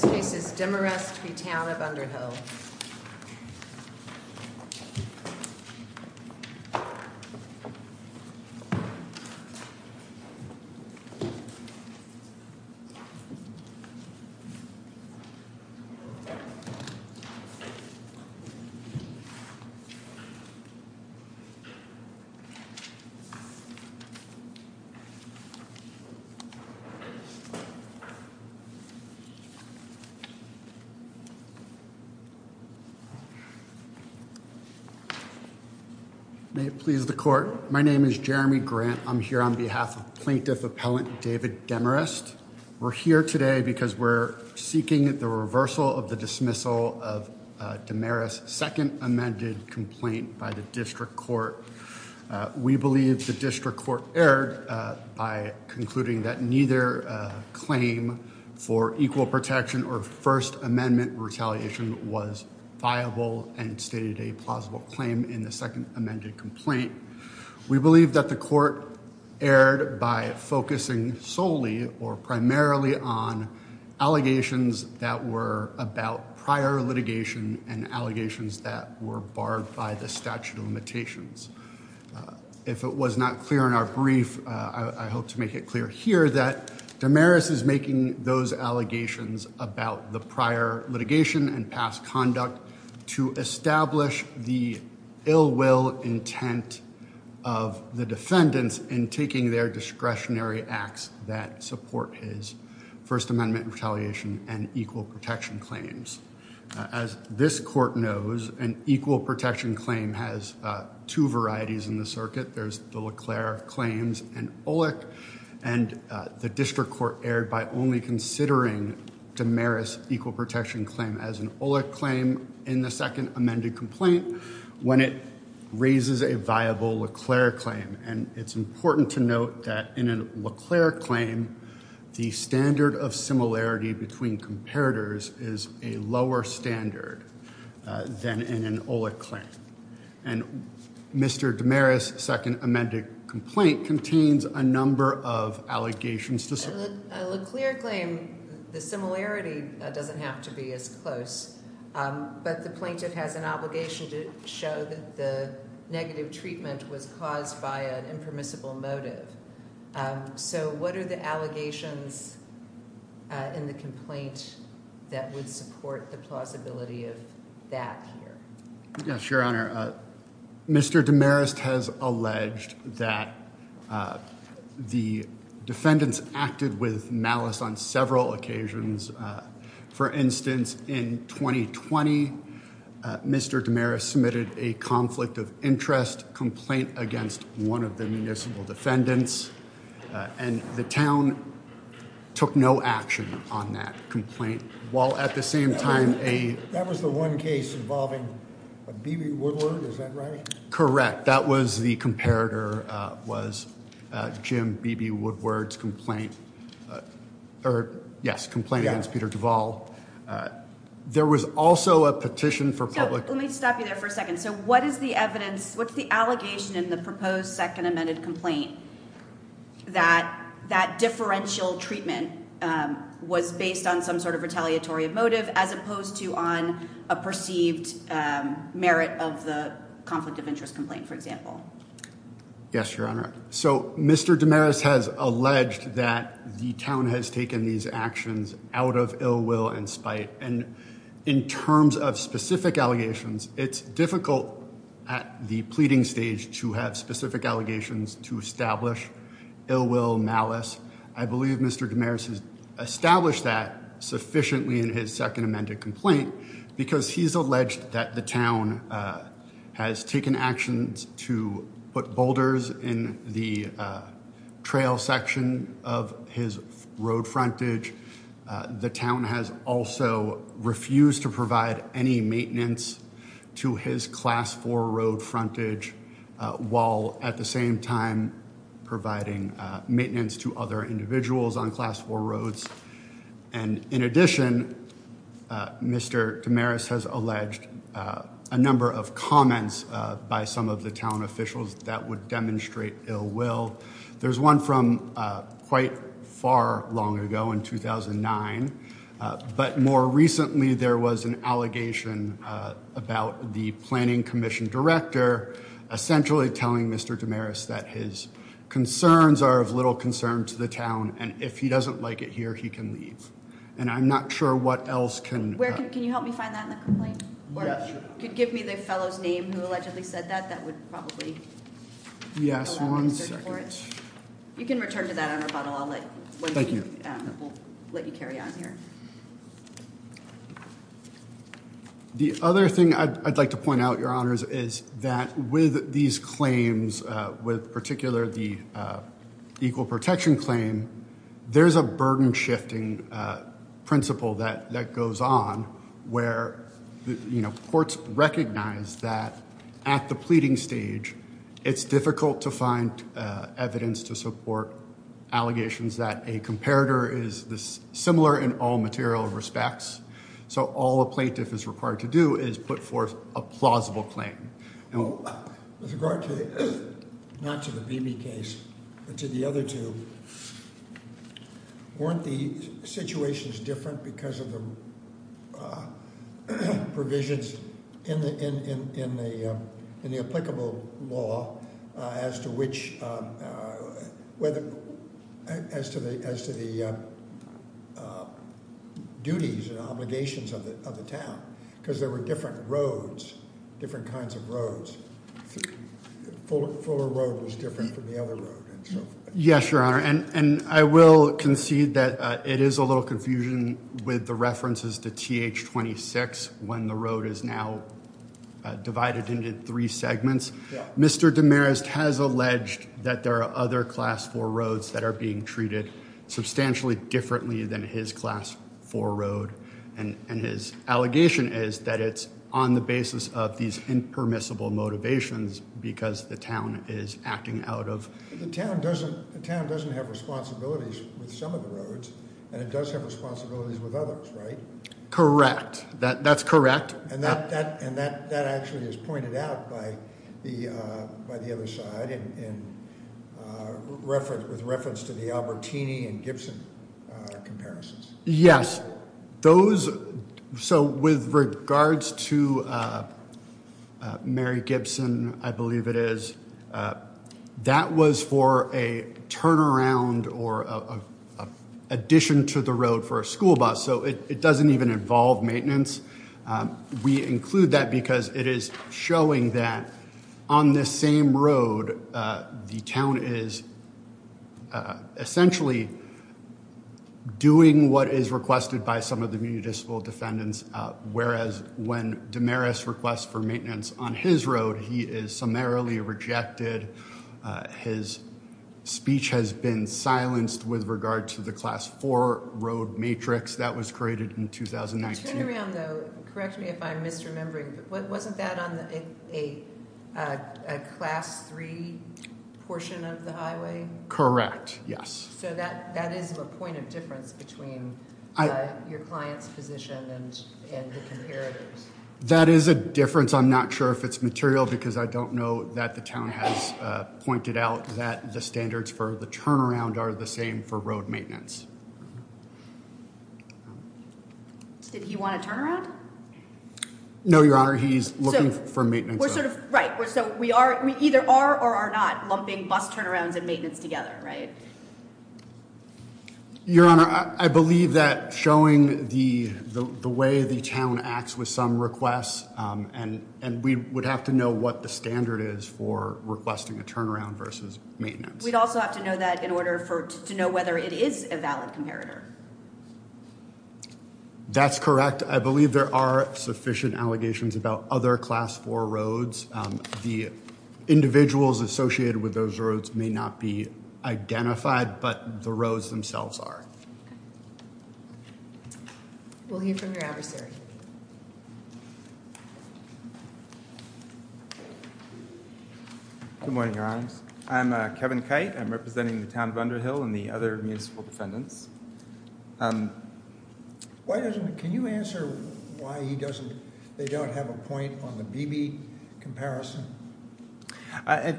This case is Demarest v. Town of Underhill. May it please the court, my name is Jeremy Grant. I'm here on behalf of Plaintiff Appellant David Demarest. We're here today because we're seeking the reversal of the dismissal of Demarest's second amended complaint by the District Court. We believe the District Court erred by concluding that neither claim for equal protection or First Amendment retaliation was viable and stated a plausible claim in the second amended complaint. We believe that the court erred by focusing solely or primarily on allegations that were about prior litigation and allegations that were barred by the statute of limitations. If it was not clear in our brief, I hope to make it clear here that Demarest is making those allegations about the prior litigation and past conduct to establish the ill will intent of the defendants in taking their discretionary acts that support his First Amendment retaliation and equal protection claims. As this court knows, an equal protection claim has two varieties in the circuit. There's the Leclerc claims and Olek, and the District Court erred by only considering Demarest's equal protection claim as an Olek claim in the second amended complaint when it raises a viable Leclerc claim. And it's important to note that in a Leclerc claim, the standard of similarity between comparators is a lower standard than in an Olek claim. And Mr. Demarest's second amended complaint contains a number of allegations. The Leclerc claim, the similarity doesn't have to be as close, but the plaintiff has an obligation to show that the negative treatment was caused by an impermissible motive. So what are the allegations in the complaint that would support the plausibility of that here? Yes, Your Honor. Mr. Demarest has alleged that the defendants acted with malice on several occasions. For instance, in 2020, Mr. Demarest submitted a conflict of interest complaint against one of the municipal defendants, and the town took no action on that complaint. That was the one case involving B.B. Woodward, is that right? Correct. That was the comparator, was Jim B.B. Woodward's complaint, or yes, complaint against Peter Duvall. There was also a petition for public... Yes, Your Honor. So Mr. Demarest has alleged that the town has taken these actions out of ill will and spite. And in terms of specific allegations, it's difficult at the pleading stage to have specific allegations to establish ill will, malice. I believe Mr. Demarest has established that sufficiently in his second amended complaint because he's alleged that the town has taken actions to put boulders in the trail section of his road frontage. The town has also refused to provide any maintenance to his Class 4 road frontage while at the same time providing maintenance to other individuals on Class 4 roads. And in addition, Mr. Demarest has alleged a number of comments by some of the town officials that would demonstrate ill will. There's one from quite far long ago in 2009, but more recently there was an allegation about the planning commission director essentially telling Mr. Demarest that his concerns are of little concern to the town, and if he doesn't like it here, he can leave. And I'm not sure what else can... Can you help me find that in the complaint? Yes, sure. If you could give me the fellow's name who allegedly said that, that would probably allow me to search for it. Yes, one second. You can return to that on rebuttal. I'll let you carry on here. The other thing I'd like to point out, Your Honors, is that with these claims, with particular the equal protection claim, there's a burden shifting principle that goes on where, you know, courts recognize that at the pleading stage, it's difficult to find evidence to support allegations that a comparator is similar in all means. So all a plaintiff is required to do is put forth a plausible claim. With regard to, not to the Beebe case, but to the other two, weren't the situations different because of the provisions in the applicable law as to which, as to the duties and obligations of the town? Because there were different roads, different kinds of roads. Fuller Road was different from the other road. Yes, Your Honor, and I will concede that it is a little confusion with the references to TH-26 when the road is now divided into three segments. Mr. DeMarest has alleged that there are other Class 4 roads that are being treated substantially differently than his Class 4 road, and his allegation is that it's on the basis of these impermissible motivations because the town is acting out of... The town doesn't have responsibilities with some of the roads, and it does have responsibilities with others, right? Correct. That's correct. And that actually is pointed out by the other side with reference to the Albertini and Gibson comparisons. Yes, those... So with regards to Mary Gibson, I believe it is, that was for a turnaround or addition to the road for a school bus, so it doesn't even involve maintenance. We include that because it is showing that on this same road, the town is essentially doing what is requested by some of the municipal defendants, whereas when DeMarest requests for maintenance on his road, he is summarily rejected. His speech has been silenced with regard to the Class 4 road matrix that was created in 2019. The turnaround, though, correct me if I'm misremembering, but wasn't that on a Class 3 portion of the highway? Correct, yes. So that is a point of difference between your client's position and the comparator's. That is a difference. I'm not sure if it's material because I don't know that the town has pointed out that the standards for the turnaround are the same for road maintenance. Did he want a turnaround? No, Your Honor, he's looking for maintenance. Right, so we either are or are not lumping bus turnarounds and maintenance together, right? Your Honor, I believe that showing the way the town acts with some requests, and we would have to know what the standard is for requesting a turnaround versus maintenance. We'd also have to know that in order to know whether it is a valid comparator. That's correct. I believe there are sufficient allegations about other Class 4 roads. The individuals associated with those roads may not be identified, but the roads themselves are. We'll hear from your adversary. Good morning, Your Honor. I'm Kevin Kite. I'm representing the town of Underhill and the other municipal defendants. Can you answer why they don't have a point on the BB comparison? I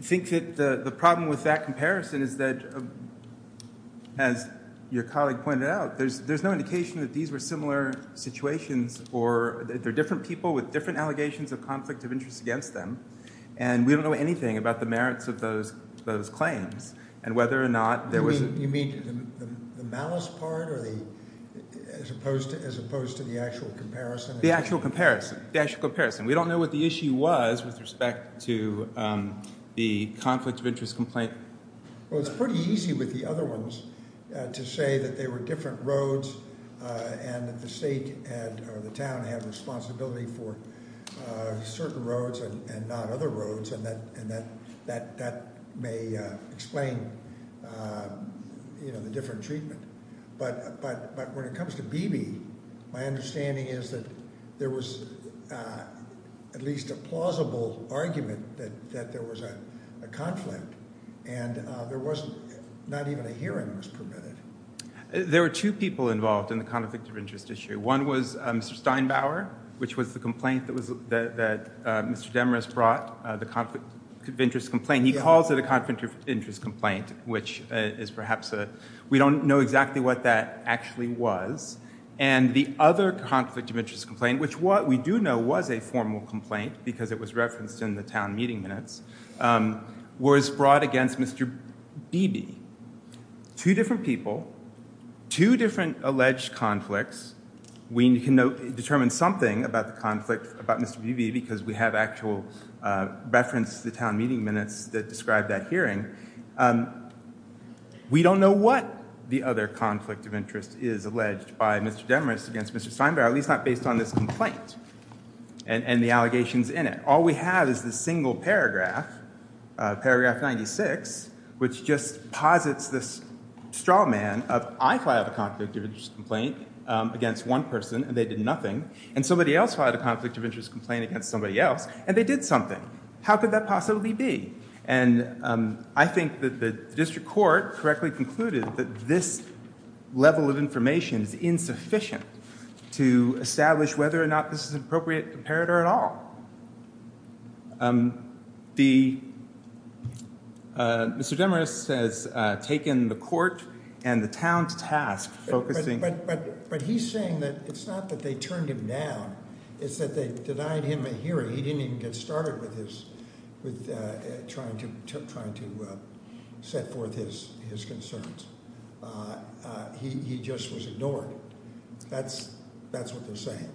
think that the problem with that comparison is that, as your colleague pointed out, there's no indication that these were similar situations or that they're different people with different allegations of conflict of interest against them. And we don't know anything about the merits of those claims and whether or not there was a… You mean the malice part as opposed to the actual comparison? The actual comparison. We don't know what the issue was with respect to the conflict of interest complaint. Well, it's pretty easy with the other ones to say that they were different roads and that the state or the town had responsibility for certain roads and not other roads, and that may explain the different treatment. But when it comes to BB, my understanding is that there was at least a plausible argument that there was a conflict and not even a hearing was permitted. There were two people involved in the conflict of interest issue. One was Mr. Steinbauer, which was the complaint that Mr. Demarest brought, the conflict of interest complaint. We don't know exactly what that actually was. And the other conflict of interest complaint, which what we do know was a formal complaint because it was referenced in the town meeting minutes, was brought against Mr. BB. Two different people, two different alleged conflicts. We can determine something about the conflict about Mr. BB because we have actual reference to town meeting minutes that describe that hearing. We don't know what the other conflict of interest is alleged by Mr. Demarest against Mr. Steinbauer, at least not based on this complaint and the allegations in it. All we have is this single paragraph, paragraph 96, which just posits this straw man of I filed a conflict of interest complaint against one person and they did nothing, and somebody else filed a conflict of interest complaint against somebody else and they did something. How could that possibly be? And I think that the district court correctly concluded that this level of information is insufficient to establish whether or not this is an appropriate comparator at all. Mr. Demarest has taken the court and the town's task focusing. But he's saying that it's not that they turned him down. It's that they denied him a hearing. He didn't even get started with trying to set forth his concerns. He just was ignored. That's what they're saying.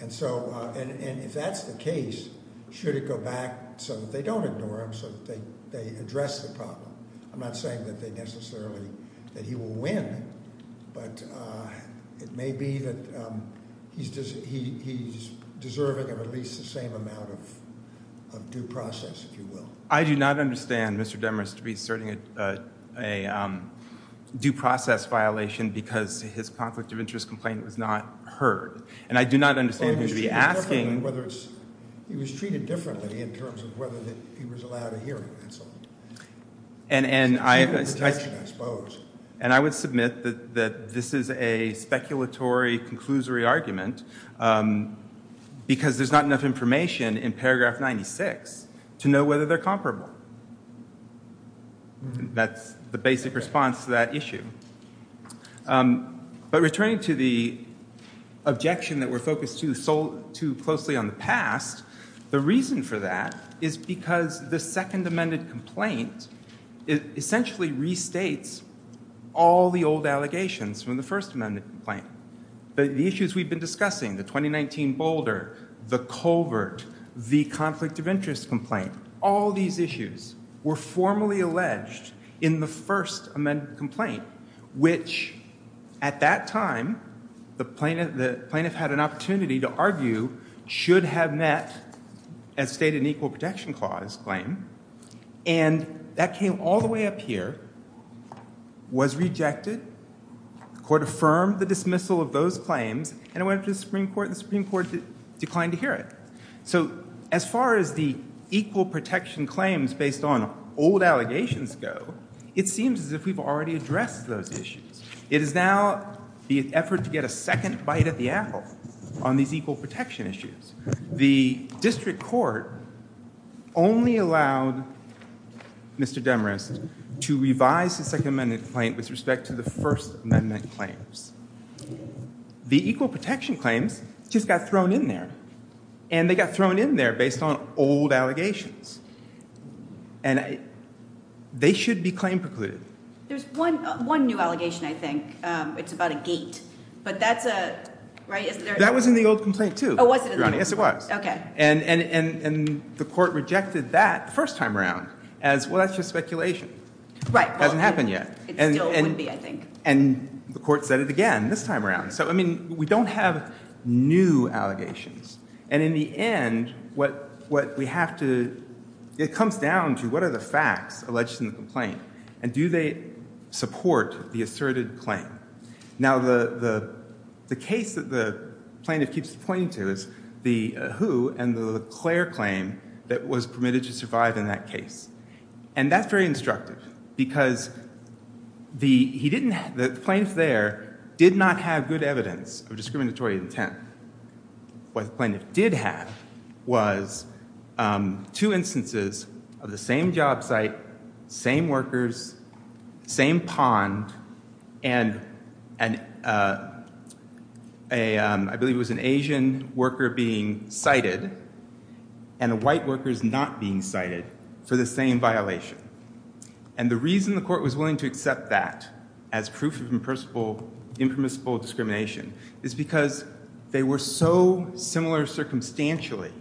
And if that's the case, should it go back so that they don't ignore him, so that they address the problem? I'm not saying that they necessarily, that he will win, but it may be that he's deserving of at least the same amount of due process, if you will. I do not understand Mr. Demarest reserting a due process violation because his conflict of interest complaint was not heard. He was treated differently in terms of whether he was allowed a hearing, that's all. And I would submit that this is a speculatory, conclusory argument because there's not enough information in paragraph 96 to know whether they're comparable. That's the basic response to that issue. But returning to the objection that we're focused too closely on the past, the reason for that is because the second amended complaint essentially restates all the old allegations from the first amended complaint. The issues we've been discussing, the 2019 Boulder, the covert, the conflict of interest complaint, all these issues were formally alleged in the first amended complaint, which at that time the plaintiff had an opportunity to argue should have met as stated in Equal Protection Clause claim. And that came all the way up here, was rejected, the court affirmed the dismissal of those claims, and it went to the Supreme Court, and the Supreme Court declined to hear it. So as far as the Equal Protection claims based on old allegations go, it seems as if we've already addressed those issues. It is now the effort to get a second bite at the apple on these Equal Protection issues. The district court only allowed Mr. Demarest to revise the second amended complaint with respect to the first amended claims. The Equal Protection claims just got thrown in there, and they got thrown in there based on old allegations. And they should be claim precluded. There's one new allegation, I think. It's about a gate. But that's a, right? That was in the old complaint, too. Oh, was it in the old complaint? Yes, it was. Okay. And the court rejected that the first time around as, well, that's just speculation. Right. It hasn't happened yet. It still wouldn't be, I think. And the court said it again this time around. So, I mean, we don't have new allegations. And in the end, what we have to, it comes down to what are the facts alleged in the complaint, and do they support the asserted claim? Now, the case that the plaintiff keeps pointing to is the Who and the Leclerc claim that was permitted to survive in that case. And that's very instructive because the plaintiff there did not have good evidence of discriminatory intent. What the plaintiff did have was two instances of the same job site, same workers, same pond, and I believe it was an Asian worker being cited and a white worker not being cited for the same violation. And the reason the court was willing to accept that as proof of impermissible discrimination is because they were so similar circumstantially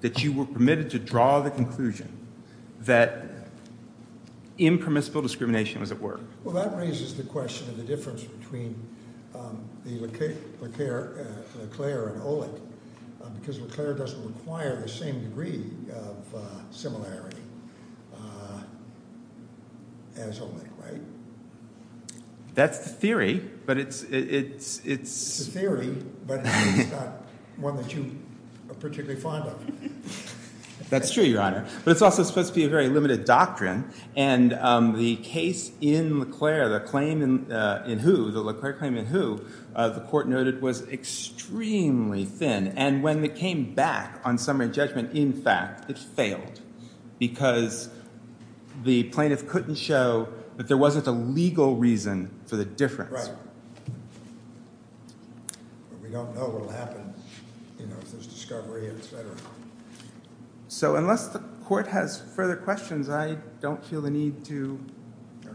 that you were permitted to draw the conclusion that impermissible discrimination was at work. Well, that raises the question of the difference between the Leclerc and Olick because Leclerc doesn't require the same degree of similarity as Olick, right? That's the theory, but it's – It's the theory, but it's not one that you are particularly fond of. That's true, Your Honor. But it's also supposed to be a very limited doctrine. And the case in Leclerc, the claim in Who, the Leclerc claim in Who, the court noted was extremely thin. And when it came back on summary judgment, in fact, it failed because the plaintiff couldn't show that there wasn't a legal reason for the difference. Right. But we don't know what will happen if there's discovery, et cetera. So unless the court has further questions, I don't feel the need to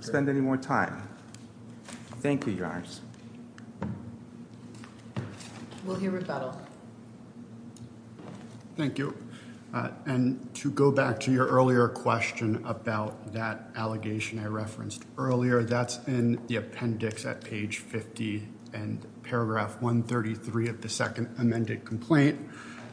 spend any more time. Thank you, Your Honors. We'll hear rebuttal. Thank you. And to go back to your earlier question about that allegation I referenced earlier, that's in the appendix at page 50 and paragraph 133 of the second amended complaint.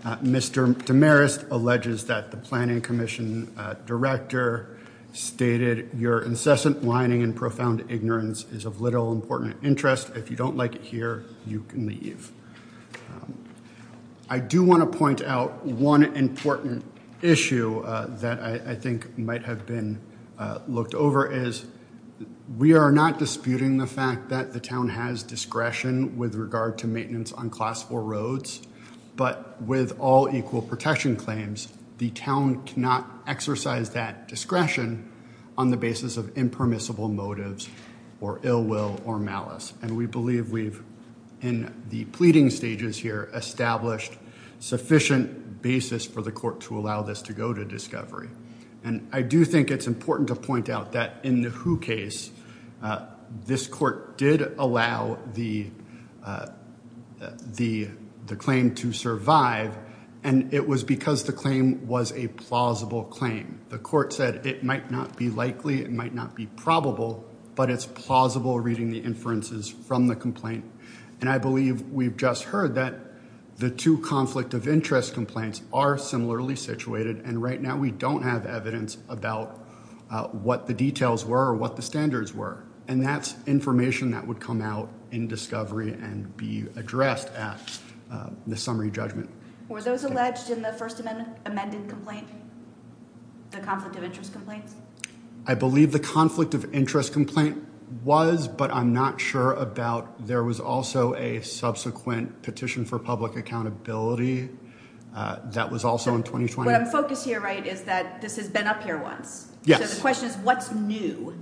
Mr. Damaris alleges that the planning commission director stated, Your incessant whining and profound ignorance is of little important interest. If you don't like it here, you can leave. I do want to point out one important issue that I think might have been looked over is we are not disputing the fact that the town has discretion with regard to maintenance on class four roads. But with all equal protection claims, the town cannot exercise that discretion on the basis of impermissible motives or ill will or malice. And we believe we've, in the pleading stages here, established sufficient basis for the court to allow this to go to discovery. And I do think it's important to point out that in the Who case, this court did allow the claim to survive. And it was because the claim was a plausible claim. The court said it might not be likely, it might not be probable, but it's plausible reading the inferences from the complaint. And I believe we've just heard that the two conflict of interest complaints are similarly situated. And right now we don't have evidence about what the details were or what the standards were. And that's information that would come out in discovery and be addressed at the summary judgment. Were those alleged in the first amendment amended complaint, the conflict of interest complaints? I believe the conflict of interest complaint was, but I'm not sure about. There was also a subsequent petition for public accountability that was also in 2020. What I'm focused here, right, is that this has been up here once. Yes. The question is, what's new?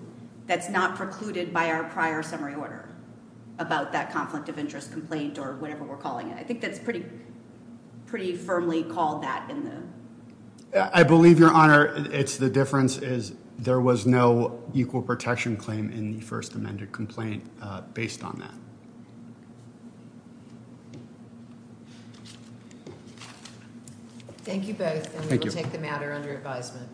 That's not precluded by our prior summary order about that conflict of interest complaint or whatever we're calling it. I think that's pretty firmly called that. I believe, Your Honor, it's the difference is there was no equal protection claim in the first amended complaint based on that. Thank you both. And we will take the matter under advisement.